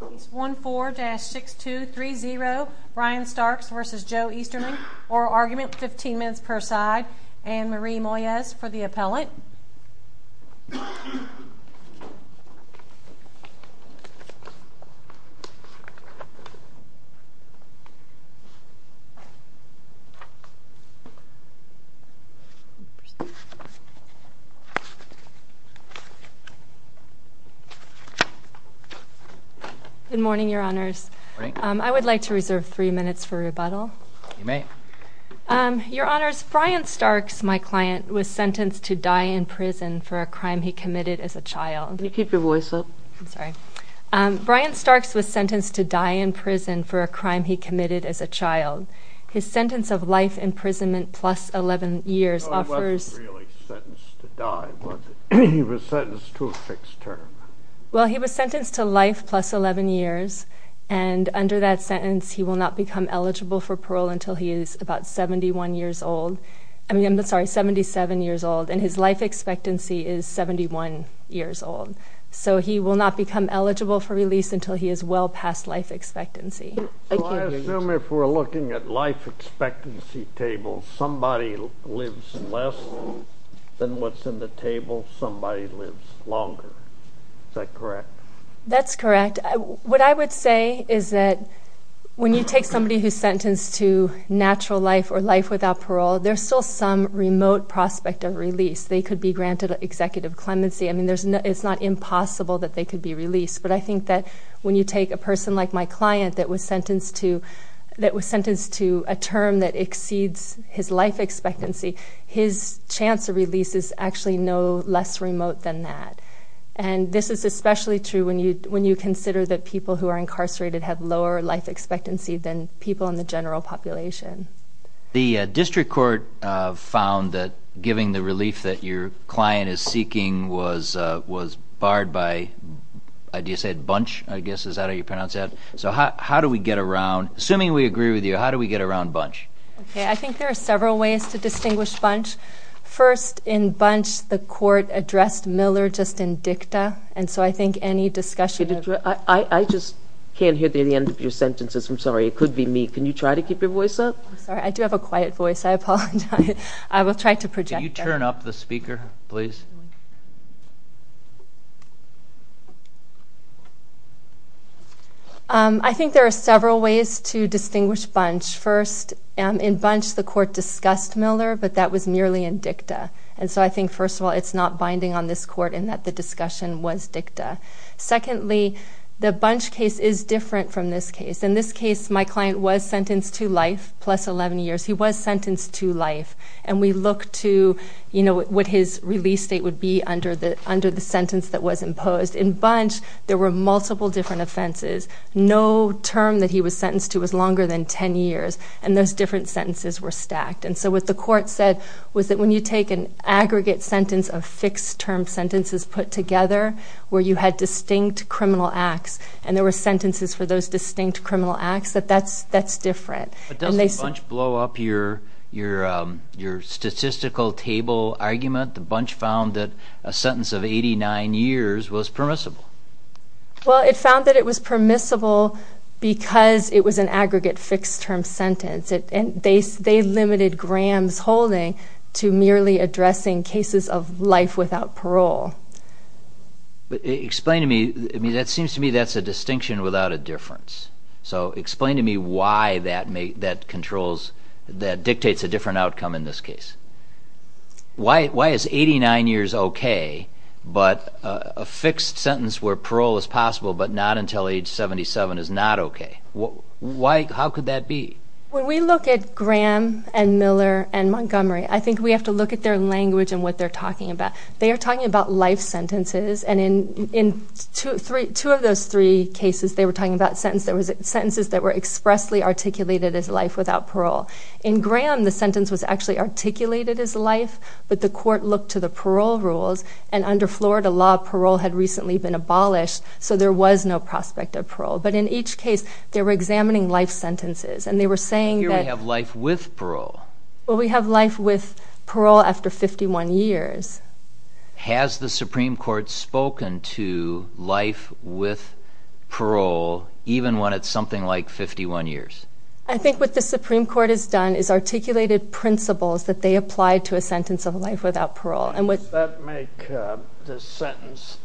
Case 14-6230 Brian Starks v. Joe Easterling Oral argument, 15 minutes per side Anne Marie Moyes for the appellate Good morning, Your Honors. I would like to reserve three minutes for rebuttal. You may. Your Honors, Brian Starks, my client, was sentenced to die in prison for a crime he committed as a child. Can you keep your voice up? I'm sorry. Brian Starks was sentenced to die in prison for a crime he committed as a child. His sentence of life imprisonment plus 11 years offers... He wasn't really sentenced to die, was he? He was sentenced to a fixed term. Well, he was sentenced to life plus 11 years. And under that sentence, he will not become eligible for parole until he is about 71 years old. I mean, I'm sorry, 77 years old. And his life expectancy is 71 years old. So he will not become eligible for release until he is well past life expectancy. So I assume if we're looking at life expectancy tables, somebody lives less than what's in the table, somebody lives longer. Is that correct? That's correct. What I would say is that when you take somebody who's sentenced to natural life or life without parole, there's still some remote prospect of release. They could be granted executive clemency. I mean, it's not impossible that they could be released. But I think that when you take a person like my client that was sentenced to a term that exceeds his life expectancy, his chance of release is actually no less remote than that. And this is especially true when you consider that people who are incarcerated have lower life expectancy than people in the general population. The district court found that giving the relief that your client is seeking was barred by Bunch, I guess. Is that how you pronounce that? So how do we get around? Assuming we agree with you, how do we get around Bunch? Okay, I think there are several ways to distinguish Bunch. First, in Bunch, the court addressed Miller just in dicta. And so I think any discussion of it. I just can't hear the end of your sentences. I'm sorry. It could be me. Can you try to keep your voice up? I'm sorry. I do have a quiet voice. I apologize. I will try to project that. Can you turn up the speaker, please? I think there are several ways to distinguish Bunch. First, in Bunch, the court discussed Miller, but that was merely in dicta. And so I think, first of all, it's not binding on this court in that the discussion was dicta. Secondly, the Bunch case is different from this case. In this case, my client was sentenced to life plus 11 years. He was sentenced to life. And we looked to, you know, what his release date would be under the sentence that was imposed. In Bunch, there were multiple different offenses. No term that he was sentenced to was longer than 10 years. And those different sentences were stacked. And so what the court said was that when you take an aggregate sentence of fixed-term sentences put together, where you had distinct criminal acts, and there were sentences for those distinct criminal acts, that that's different. But doesn't Bunch blow up your statistical table argument? Bunch found that a sentence of 89 years was permissible. Well, it found that it was permissible because it was an aggregate fixed-term sentence. They limited Graham's holding to merely addressing cases of life without parole. Explain to me. I mean, that seems to me that's a distinction without a difference. So explain to me why that dictates a different outcome in this case. Why is 89 years okay but a fixed sentence where parole is possible but not until age 77 is not okay? How could that be? When we look at Graham and Miller and Montgomery, I think we have to look at their language and what they're talking about. They are talking about life sentences. And in two of those three cases, they were talking about sentences that were expressly articulated as life without parole. In Graham, the sentence was actually articulated as life, but the court looked to the parole rules. And under Florida law, parole had recently been abolished, so there was no prospect of parole. But in each case, they were examining life sentences, and they were saying that— Here we have life with parole. Well, we have life with parole after 51 years. Has the Supreme Court spoken to life with parole even when it's something like 51 years? I think what the Supreme Court has done is articulated principles that they applied to a sentence of life without parole. Does that make the sentence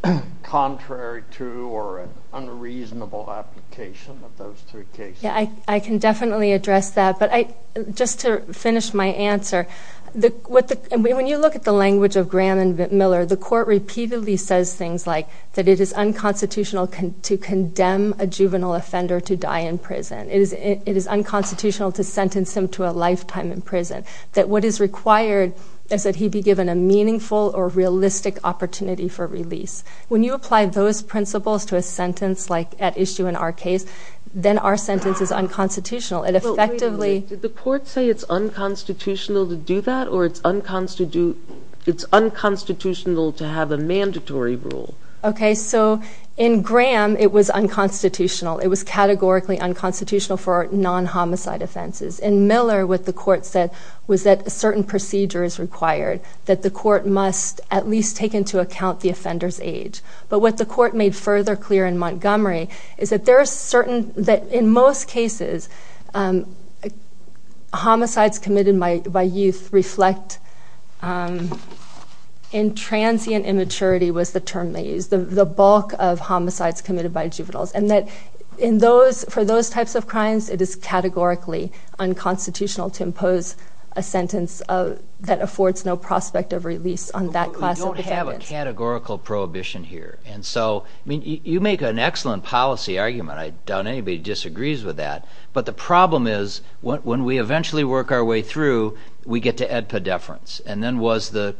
contrary to or unreasonable application of those three cases? I can definitely address that. But just to finish my answer, when you look at the language of Graham and Miller, the court repeatedly says things like that it is unconstitutional to condemn a juvenile offender to die in prison. It is unconstitutional to sentence him to a lifetime in prison. That what is required is that he be given a meaningful or realistic opportunity for release. When you apply those principles to a sentence like at issue in our case, then our sentence is unconstitutional. It effectively— Did the court say it's unconstitutional to do that, or it's unconstitutional to have a mandatory rule? Okay, so in Graham, it was unconstitutional. It was categorically unconstitutional for non-homicide offenses. In Miller, what the court said was that a certain procedure is required, that the court must at least take into account the offender's age. But what the court made further clear in Montgomery is that there are certain— that in most cases, homicides committed by youth reflect intransient immaturity was the term they used, the bulk of homicides committed by juveniles, and that in those—for those types of crimes, it is categorically unconstitutional to impose a sentence that affords no prospect of release on that class of defendants. We don't have a categorical prohibition here. And so, I mean, you make an excellent policy argument. I doubt anybody disagrees with that. But the problem is when we eventually work our way through, we get to ad pedeference. And then was the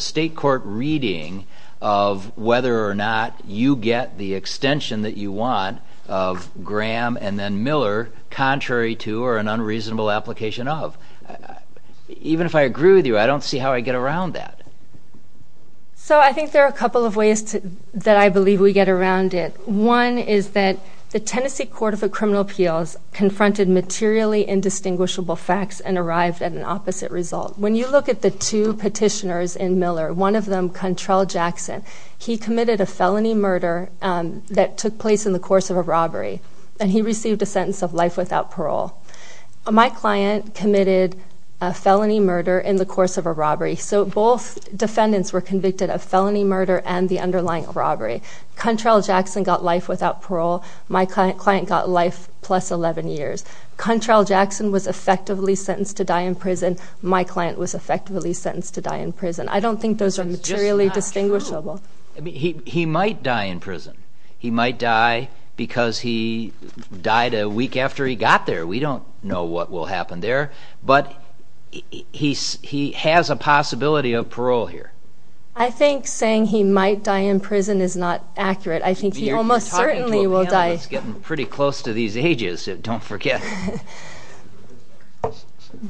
state court reading of whether or not you get the extension that you want of Graham and then Miller contrary to or an unreasonable application of? Even if I agree with you, I don't see how I get around that. So I think there are a couple of ways that I believe we get around it. One is that the Tennessee Court of Criminal Appeals confronted materially indistinguishable facts and arrived at an opposite result. When you look at the two petitioners in Miller, one of them, Contrell Jackson, he committed a felony murder that took place in the course of a robbery, and he received a sentence of life without parole. My client committed a felony murder in the course of a robbery. So both defendants were convicted of felony murder and the underlying robbery. Contrell Jackson got life without parole. My client got life plus 11 years. Contrell Jackson was effectively sentenced to die in prison. My client was effectively sentenced to die in prison. I don't think those are materially distinguishable. He might die in prison. He might die because he died a week after he got there. We don't know what will happen there. But he has a possibility of parole here. I think saying he might die in prison is not accurate. I think he almost certainly will die. It's getting pretty close to these ages. Don't forget.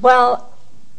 Well,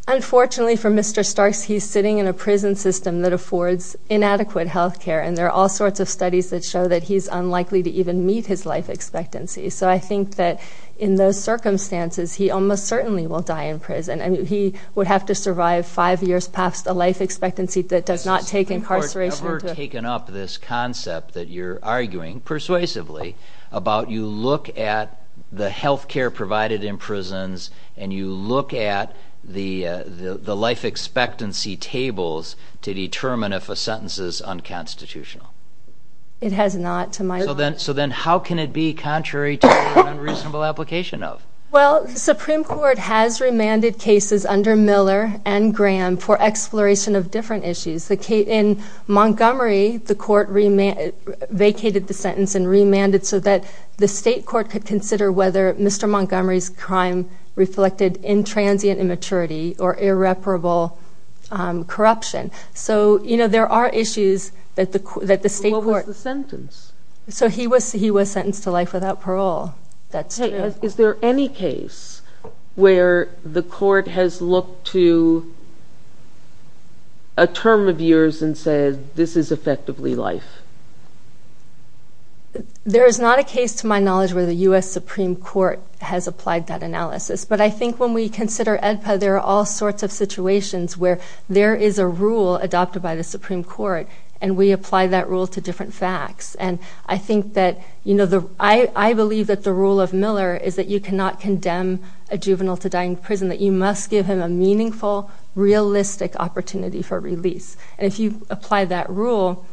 unfortunately for Mr. Starks, he's sitting in a prison system that affords inadequate health care, and there are all sorts of studies that show that he's unlikely to even meet his life expectancy. So I think that in those circumstances, he almost certainly will die in prison. I mean, he would have to survive five years past a life expectancy that does not take incarceration into account. You have taken up this concept that you're arguing persuasively about you look at the health care provided in prisons and you look at the life expectancy tables to determine if a sentence is unconstitutional. It has not, to my knowledge. So then how can it be contrary to an unreasonable application of? Well, the Supreme Court has remanded cases under Miller and Graham for exploration of different issues. In Montgomery, the court vacated the sentence and remanded so that the state court could consider whether Mr. Montgomery's crime reflected intransient immaturity or irreparable corruption. So, you know, there are issues that the state court- What was the sentence? So he was sentenced to life without parole. Is there any case where the court has looked to a term of years and said this is effectively life? There is not a case, to my knowledge, where the U.S. Supreme Court has applied that analysis. But I think when we consider AEDPA, there are all sorts of situations where there is a rule adopted by the Supreme Court and we apply that rule to different facts. And I think that- I believe that the rule of Miller is that you cannot condemn a juvenile to die in prison, that you must give him a meaningful, realistic opportunity for release. And if you apply that rule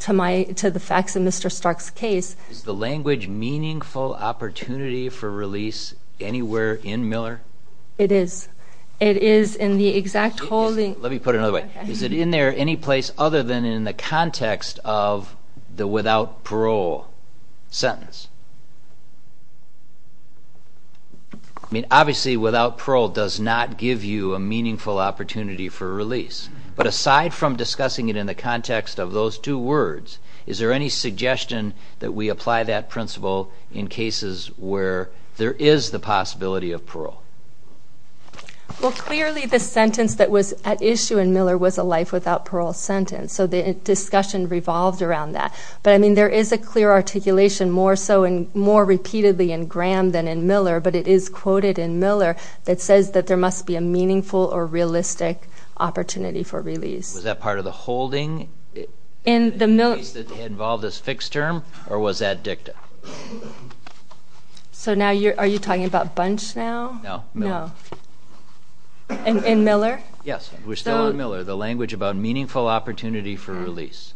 to the facts in Mr. Stark's case- Is the language meaningful opportunity for release anywhere in Miller? It is. It is in the exact holding- Let me put it another way. Is it in there any place other than in the context of the without parole sentence? I mean, obviously, without parole does not give you a meaningful opportunity for release. But aside from discussing it in the context of those two words, is there any suggestion that we apply that principle in cases where there is the possibility of parole? Well, clearly the sentence that was at issue in Miller was a life without parole sentence. So the discussion revolved around that. But, I mean, there is a clear articulation more so and more repeatedly in Graham than in Miller, but it is quoted in Miller that says that there must be a meaningful or realistic opportunity for release. Was that part of the holding in the case that involved this fixed term, or was that dicta? So now you're- are you talking about Bunch now? No. In Miller? Yes. We're still on Miller. The language about meaningful opportunity for release.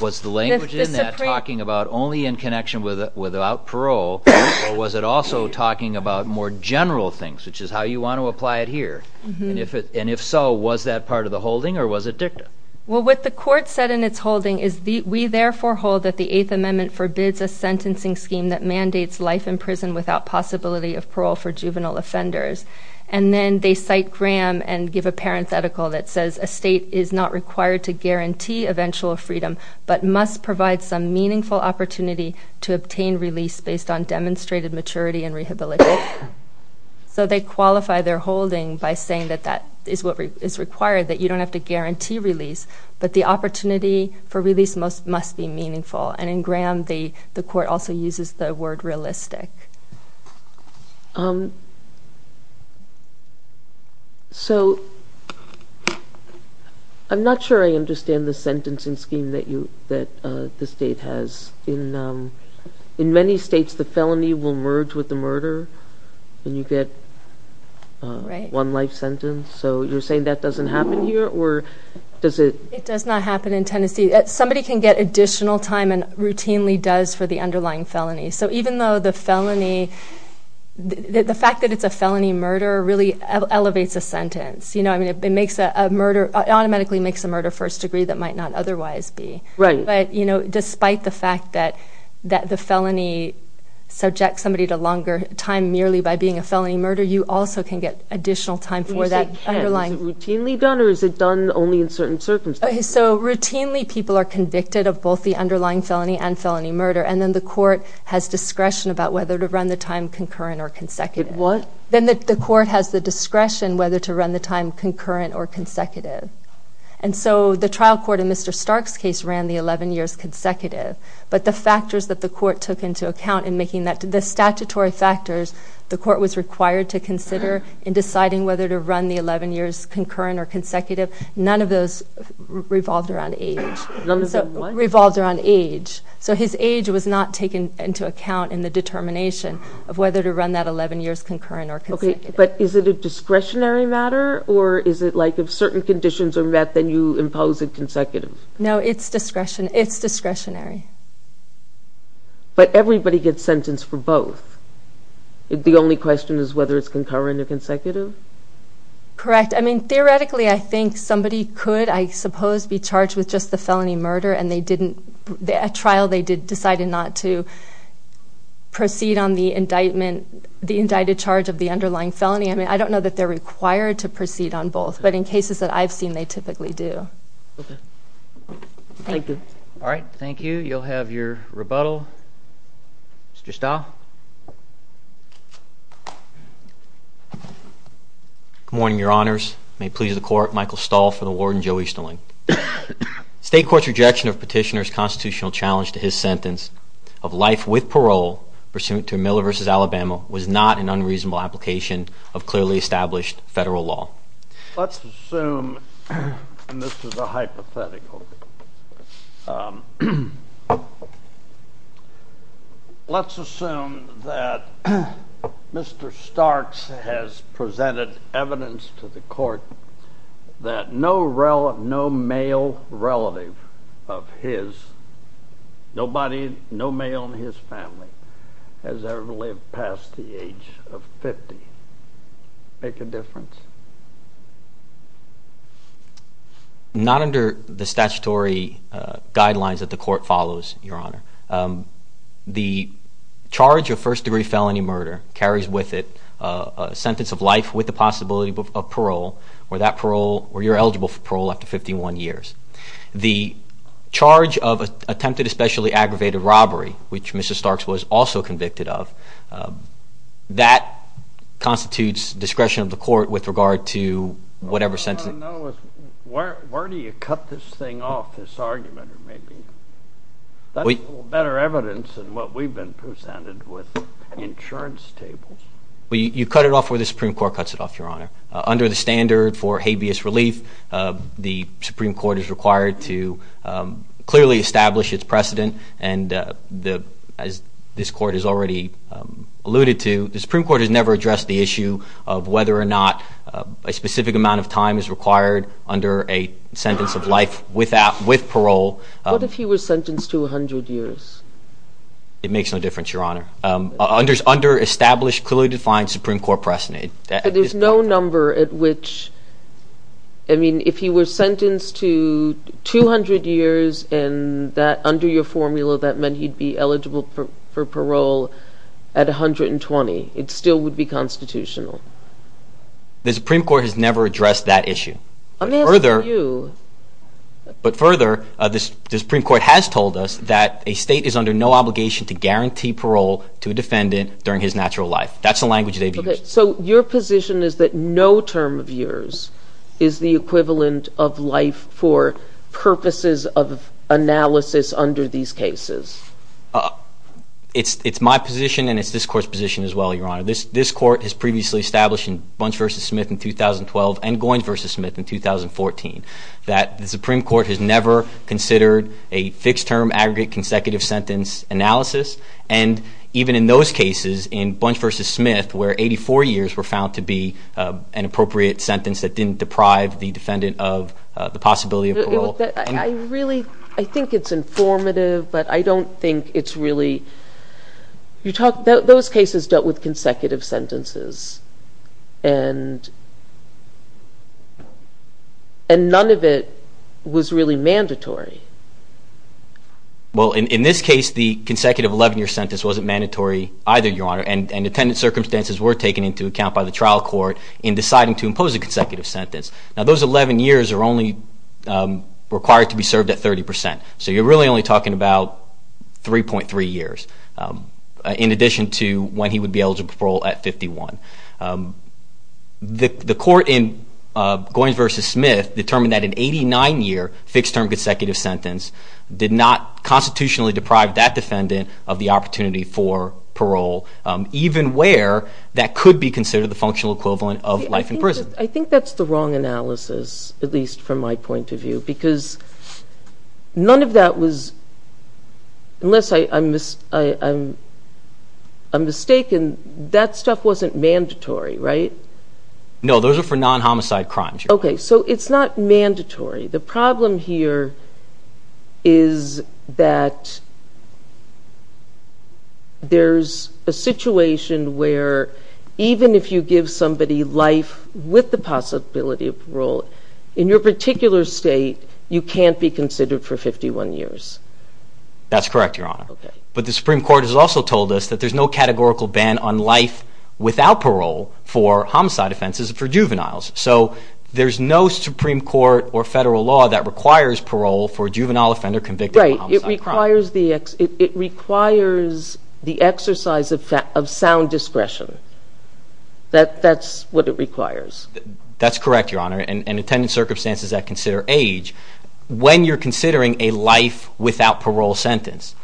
Was the language in that talking about only in connection with without parole, or was it also talking about more general things, which is how you want to apply it here? And if so, was that part of the holding, or was it dicta? Well, what the court said in its holding is, we therefore hold that the Eighth Amendment forbids a sentencing scheme that mandates life in prison without possibility of parole for juvenile offenders. And then they cite Graham and give a parenthetical that says, So they qualify their holding by saying that that is what is required, that you don't have to guarantee release, but the opportunity for release must be meaningful. And in Graham, the court also uses the word realistic. So, I'm not sure I understand the sentencing scheme that you- that the state has. In many states, the felony will merge with the murder, and you get one life sentence. So, you're saying that doesn't happen here, or does it- It does not happen in Tennessee. Somebody can get additional time and routinely does for the underlying felony. So, even though the felony- the fact that it's a felony murder really elevates a sentence. You know, I mean, it makes a murder- it automatically makes a murder first degree that might not otherwise be. Right. But, you know, despite the fact that the felony subjects somebody to longer time you also can get additional time for that underlying- When you say can, is it routinely done, or is it done only in certain circumstances? So, routinely people are convicted of both the underlying felony and felony murder, and then the court has discretion about whether to run the time concurrent or consecutive. What? Then the court has the discretion whether to run the time concurrent or consecutive. And so, the trial court in Mr. Stark's case ran the 11 years consecutive, but the factors that the court took into account in making that- in deciding whether to run the 11 years concurrent or consecutive, none of those revolved around age. None of the what? Revolved around age. So, his age was not taken into account in the determination of whether to run that 11 years concurrent or consecutive. Okay, but is it a discretionary matter, or is it like if certain conditions are met then you impose it consecutive? No, it's discretionary. But everybody gets sentenced for both. The only question is whether it's concurrent or consecutive? Correct. I mean, theoretically I think somebody could, I suppose, be charged with just the felony murder, and they didn't- at trial they did decide not to proceed on the indictment- the indicted charge of the underlying felony. I mean, I don't know that they're required to proceed on both, but in cases that I've seen they typically do. Okay. Thank you. All right, thank you. You'll have your rebuttal. Mr. Stahl. Good morning, Your Honors. May it please the Court, Michael Stahl for the Warden Joe Easterling. State court's rejection of Petitioner's constitutional challenge to his sentence of life with parole pursuant to Miller v. Alabama was not an unreasonable application of clearly established federal law. Let's assume, and this is a hypothetical, let's assume that Mr. Starks has presented evidence to the court that no male relative of his, no male in his family, has ever lived past the age of 50. Make a difference. Not under the statutory guidelines that the court follows, Your Honor. The charge of first-degree felony murder carries with it a sentence of life with the possibility of parole, where you're eligible for parole after 51 years. The charge of attempted especially aggravated robbery, which Mr. Starks was also convicted of, that constitutes discretion of the court with regard to whatever sentence. What I want to know is where do you cut this thing off, this argument, maybe? That's a little better evidence than what we've been presented with insurance tables. You cut it off where the Supreme Court cuts it off, Your Honor. Under the standard for habeas relief, the Supreme Court is required to clearly establish its precedent, and as this court has already alluded to, the Supreme Court has never addressed the issue of whether or not a specific amount of time is required under a sentence of life with parole. What if he was sentenced to 100 years? It makes no difference, Your Honor. Under established, clearly defined Supreme Court precedent. But there's no number at which, I mean, if he were sentenced to 200 years under your formula, that meant he'd be eligible for parole at 120. It still would be constitutional. The Supreme Court has never addressed that issue. Let me ask you. But further, the Supreme Court has told us that a state is under no obligation to guarantee parole to a defendant during his natural life. That's the language they've used. So your position is that no term of yours is the equivalent of life for purposes of analysis under these cases? It's my position, and it's this court's position as well, Your Honor. This court has previously established in Bunch v. Smith in 2012 and Goins v. Smith in 2014 that the Supreme Court has never considered a fixed-term aggregate consecutive sentence analysis. And even in those cases, in Bunch v. Smith, where 84 years were found to be an appropriate sentence that didn't deprive the defendant of the possibility of parole. I really think it's informative, but I don't think it's really... Those cases dealt with consecutive sentences, and none of it was really mandatory. Well, in this case, the consecutive 11-year sentence wasn't mandatory either, Your Honor. And attendant circumstances were taken into account by the trial court in deciding to impose a consecutive sentence. Now, those 11 years are only required to be served at 30 percent. So you're really only talking about 3.3 years, in addition to when he would be eligible for parole at 51. The court in Goins v. Smith determined that an 89-year fixed-term consecutive sentence did not constitutionally deprive that defendant of the opportunity for parole, even where that could be considered the functional equivalent of life in prison. I think that's the wrong analysis, at least from my point of view, because none of that was... Unless I'm mistaken, that stuff wasn't mandatory, right? No, those are for non-homicide crimes. Okay, so it's not mandatory. The problem here is that there's a situation where, even if you give somebody life with the possibility of parole, in your particular state, you can't be considered for 51 years. That's correct, Your Honor. But the Supreme Court has also told us that there's no categorical ban on life without parole for homicide offenses for juveniles. So there's no Supreme Court or federal law that requires parole for a juvenile offender convicted of a homicide crime. Right, it requires the exercise of sound discretion. That's what it requires. That's correct, Your Honor, and attendance circumstances that consider age. When you're considering a life without parole sentence,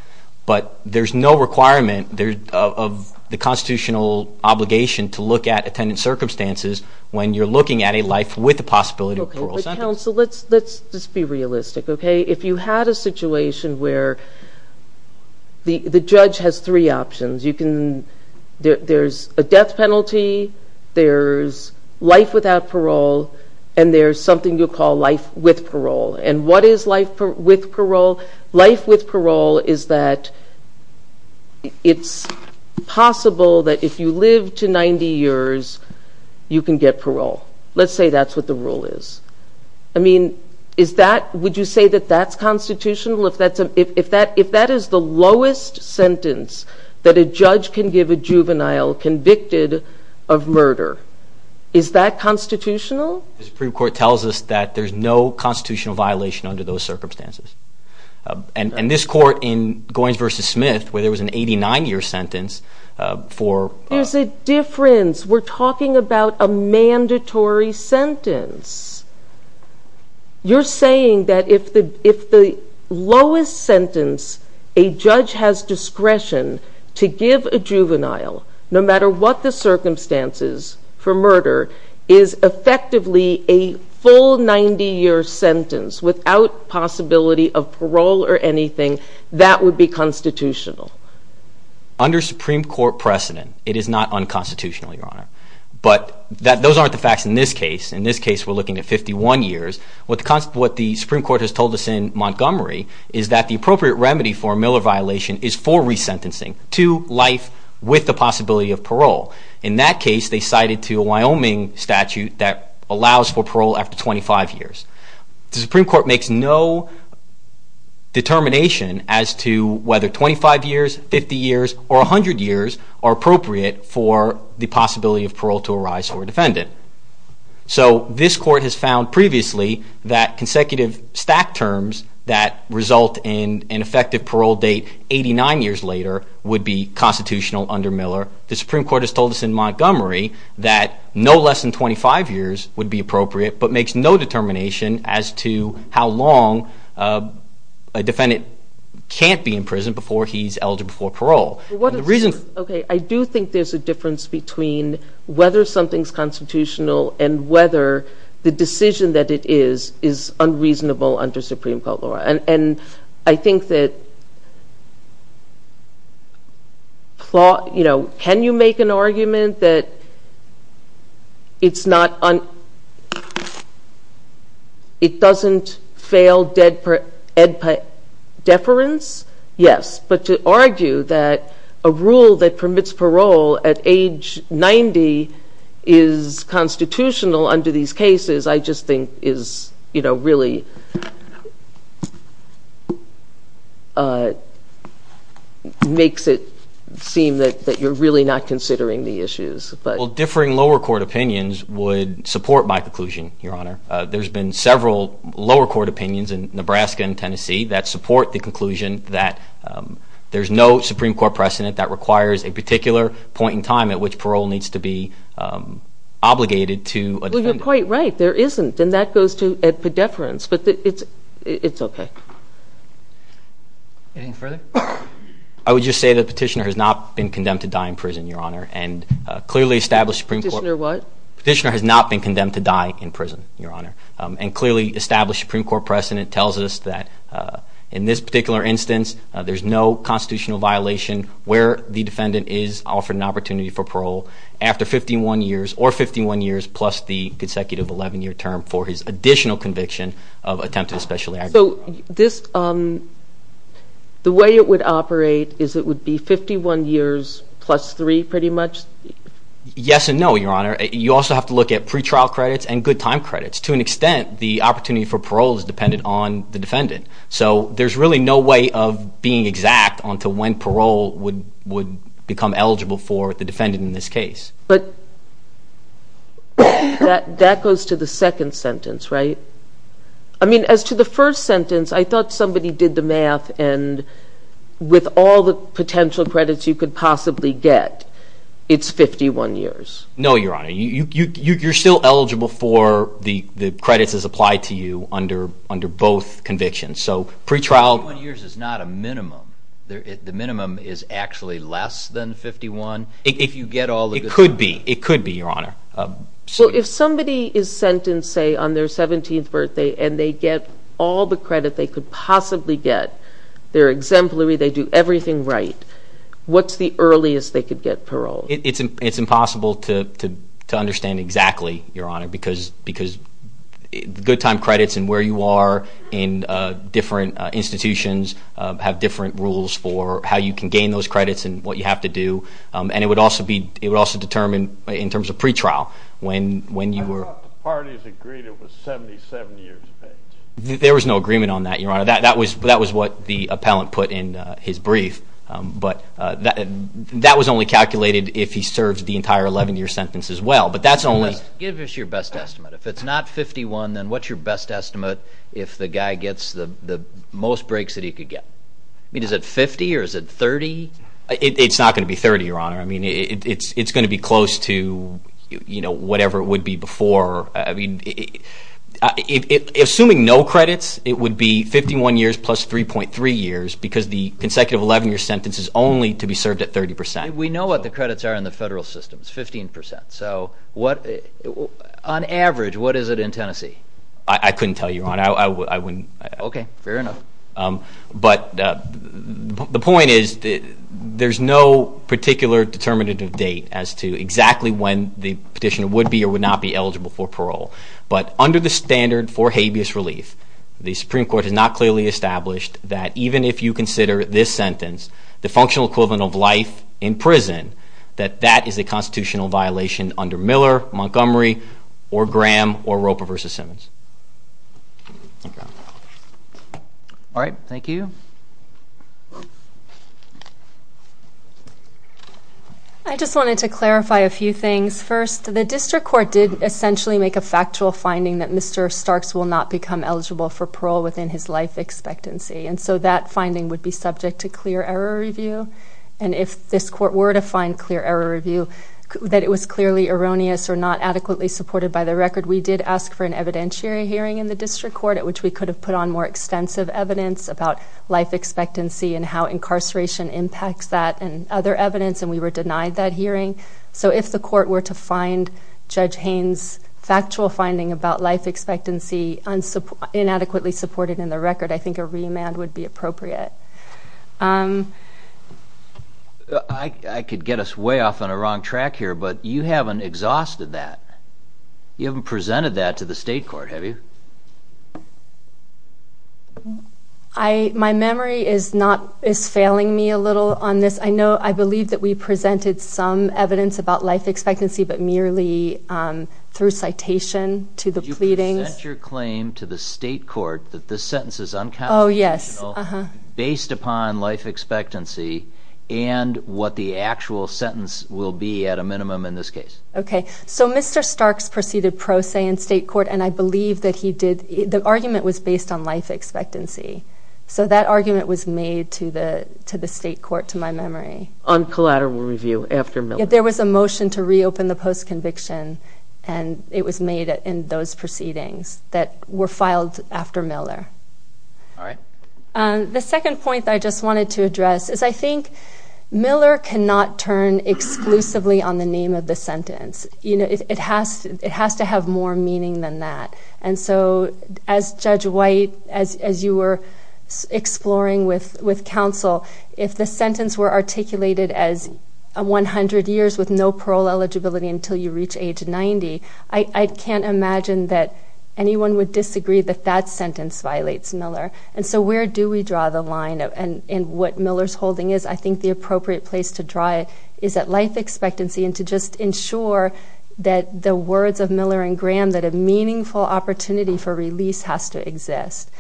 but there's no requirement of the constitutional obligation to look at attendance circumstances when you're looking at a life with the possibility of parole sentence. Okay, but counsel, let's just be realistic, okay? If you had a situation where the judge has three options, there's a death penalty, there's life without parole, and there's something you call life with parole. And what is life with parole? Life with parole is that it's possible that if you live to 90 years, you can get parole. Let's say that's what the rule is. I mean, would you say that that's constitutional? If that is the lowest sentence that a judge can give a juvenile convicted of murder, is that constitutional? The Supreme Court tells us that there's no constitutional violation under those circumstances. And this court in Goins v. Smith, where there was an 89-year sentence for... But there's a difference. We're talking about a mandatory sentence. You're saying that if the lowest sentence a judge has discretion to give a juvenile, no matter what the circumstances for murder, is effectively a full 90-year sentence without possibility of parole or anything, that would be constitutional. Under Supreme Court precedent, it is not unconstitutional, Your Honor. But those aren't the facts in this case. In this case, we're looking at 51 years. What the Supreme Court has told us in Montgomery is that the appropriate remedy for a Miller violation is for resentencing to life with the possibility of parole. In that case, they cited to a Wyoming statute that allows for parole after 25 years. The Supreme Court makes no determination as to whether 25 years, 50 years, or 100 years are appropriate for the possibility of parole to arise for a defendant. So this court has found previously that consecutive stack terms that result in an effective parole date 89 years later would be constitutional under Miller. The Supreme Court has told us in Montgomery that no less than 25 years would be appropriate, but makes no determination as to how long a defendant can't be in prison before he's eligible for parole. Okay, I do think there's a difference between whether something's constitutional and whether the decision that it is is unreasonable under Supreme Court law. And I think that, you know, can you make an argument that it doesn't fail deference? Yes, but to argue that a rule that permits parole at age 90 is constitutional under these cases, I just think is, you know, really makes it seem that you're really not considering the issues. Well, differing lower court opinions would support my conclusion, Your Honor. There's been several lower court opinions in Nebraska and Tennessee that support the conclusion that there's no Supreme Court precedent that requires a particular point in time at which parole needs to be obligated to a defendant. Well, you're quite right. There isn't, and that goes to a deference, but it's okay. Anything further? I would just say the petitioner has not been condemned to die in prison, Your Honor, and clearly established Supreme Court- Petitioner what? Petitioner has not been condemned to die in prison, Your Honor, and clearly established Supreme Court precedent tells us that in this particular instance, there's no constitutional violation where the defendant is offered an opportunity for parole after 51 years or 51 years plus the consecutive 11-year term for his additional conviction of attempted especially aggravated crime. So the way it would operate is it would be 51 years plus 3 pretty much? Yes and no, Your Honor. You also have to look at pretrial credits and good time credits. To an extent, the opportunity for parole is dependent on the defendant, so there's really no way of being exact on to when parole would become eligible for the defendant in this case. But that goes to the second sentence, right? I mean, as to the first sentence, I thought somebody did the math and with all the potential credits you could possibly get, it's 51 years. No, Your Honor. You're still eligible for the credits as applied to you under both convictions. So pretrial- 51 years is not a minimum. The minimum is actually less than 51. It could be. It could be, Your Honor. So if somebody is sentenced, say, on their 17th birthday and they get all the credit they could possibly get, they're exemplary, they do everything right, what's the earliest they could get parole? It's impossible to understand exactly, Your Honor, because good time credits and where you are in different institutions have different rules for how you can gain those credits and what you have to do. And it would also determine, in terms of pretrial, when you were- I thought the parties agreed it was 77 years of age. There was no agreement on that, Your Honor. That was what the appellant put in his brief. But that was only calculated if he served the entire 11-year sentence as well. But that's only- Give us your best estimate. If it's not 51, then what's your best estimate if the guy gets the most breaks that he could get? I mean, is it 50 or is it 30? It's not going to be 30, Your Honor. I mean, it's going to be close to whatever it would be before. I mean, assuming no credits, it would be 51 years plus 3.3 years because the consecutive 11-year sentence is only to be served at 30%. We know what the credits are in the federal system. It's 15%. So on average, what is it in Tennessee? I couldn't tell you, Your Honor. I wouldn't- Okay, fair enough. But the point is there's no particular determinative date as to exactly when the petitioner would be or would not be eligible for parole. But under the standard for habeas relief, the Supreme Court has not clearly established that even if you consider this sentence, the functional equivalent of life in prison, that that is a constitutional violation under Miller, Montgomery, or Graham, or Roper v. Simmons. All right, thank you. I just wanted to clarify a few things. First, the district court did essentially make a factual finding that Mr. Starks will not become eligible for parole within his life expectancy. And so that finding would be subject to clear error review. And if this court were to find clear error review, that it was clearly erroneous or not adequately supported by the record, we did ask for an evidentiary hearing in the district court at which we could have put on more extensive evidence about life expectancy and how incarceration impacts that and other evidence, and we were denied that hearing. So if the court were to find Judge Haynes' factual finding about life expectancy inadequately supported in the record, I think a remand would be appropriate. I could get us way off on the wrong track here, but you haven't exhausted that. You haven't presented that to the state court, have you? My memory is failing me a little on this. I believe that we presented some evidence about life expectancy, but merely through citation to the pleadings. Did you present your claim to the state court that this sentence is unconscionable based upon life expectancy and what the actual sentence will be at a minimum in this case? Okay. So Mr. Starks proceeded pro se in state court, and I believe that he did. The argument was based on life expectancy. So that argument was made to the state court, to my memory. On collateral review after Miller? There was a motion to reopen the post-conviction, and it was made in those proceedings that were filed after Miller. All right. The second point that I just wanted to address is I think Miller cannot turn exclusively on the name of the sentence. It has to have more meaning than that. And so as Judge White, as you were exploring with counsel, if the sentence were articulated as 100 years with no parole eligibility until you reach age 90, I can't imagine that anyone would disagree that that sentence violates Miller. And so where do we draw the line in what Miller's holding is? I think the appropriate place to draw it is at life expectancy and to just ensure that the words of Miller and Graham, that a meaningful opportunity for release has to exist.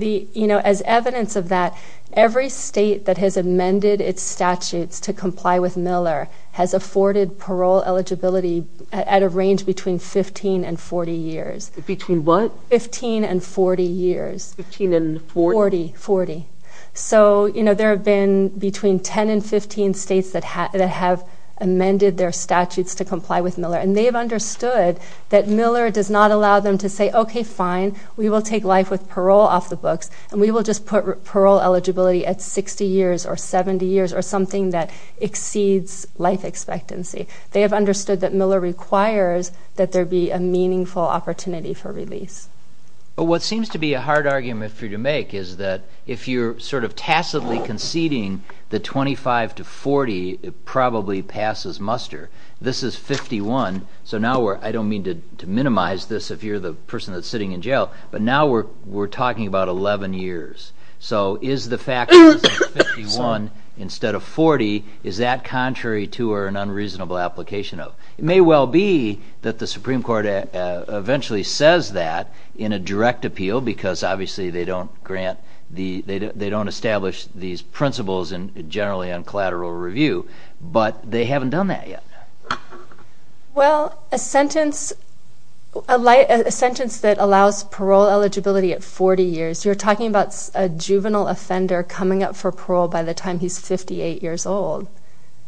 As evidence of that, every state that has amended its statutes to comply with Miller has afforded parole eligibility at a range between 15 and 40 years. Between what? 15 and 40 years. 15 and 40? 40. So there have been between 10 and 15 states that have amended their statutes to comply with Miller, and they have understood that Miller does not allow them to say, okay, fine, we will take life with parole off the books, and we will just put parole eligibility at 60 years or 70 years or something that exceeds life expectancy. They have understood that Miller requires that there be a meaningful opportunity for release. But what seems to be a hard argument for you to make is that if you're sort of tacitly conceding that 25 to 40 probably passes muster, this is 51, so now we're, I don't mean to minimize this if you're the person that's sitting in jail, but now we're talking about 11 years. So is the fact that it's 51 instead of 40, is that contrary to or an unreasonable application of? It may well be that the Supreme Court eventually says that in a direct appeal because obviously they don't establish these principles generally on collateral review, but they haven't done that yet. Well, a sentence that allows parole eligibility at 40 years, you're talking about a juvenile offender coming up for parole by the time he's 58 years old.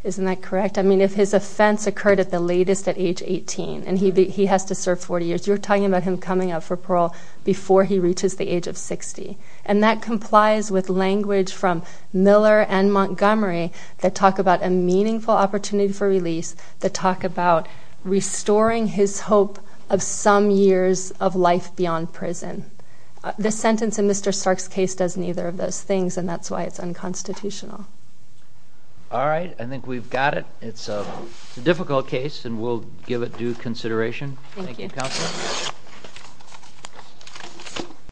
Isn't that correct? I mean, if his offense occurred at the latest at age 18 and he has to serve 40 years, you're talking about him coming up for parole before he reaches the age of 60. And that complies with language from Miller and Montgomery that talk about a meaningful opportunity for release, that talk about restoring his hope of some years of life beyond prison. This sentence in Mr. Stark's case does neither of those things, and that's why it's unconstitutional. All right. I think we've got it. It's a difficult case, and we'll give it due consideration. Thank you, Counsel.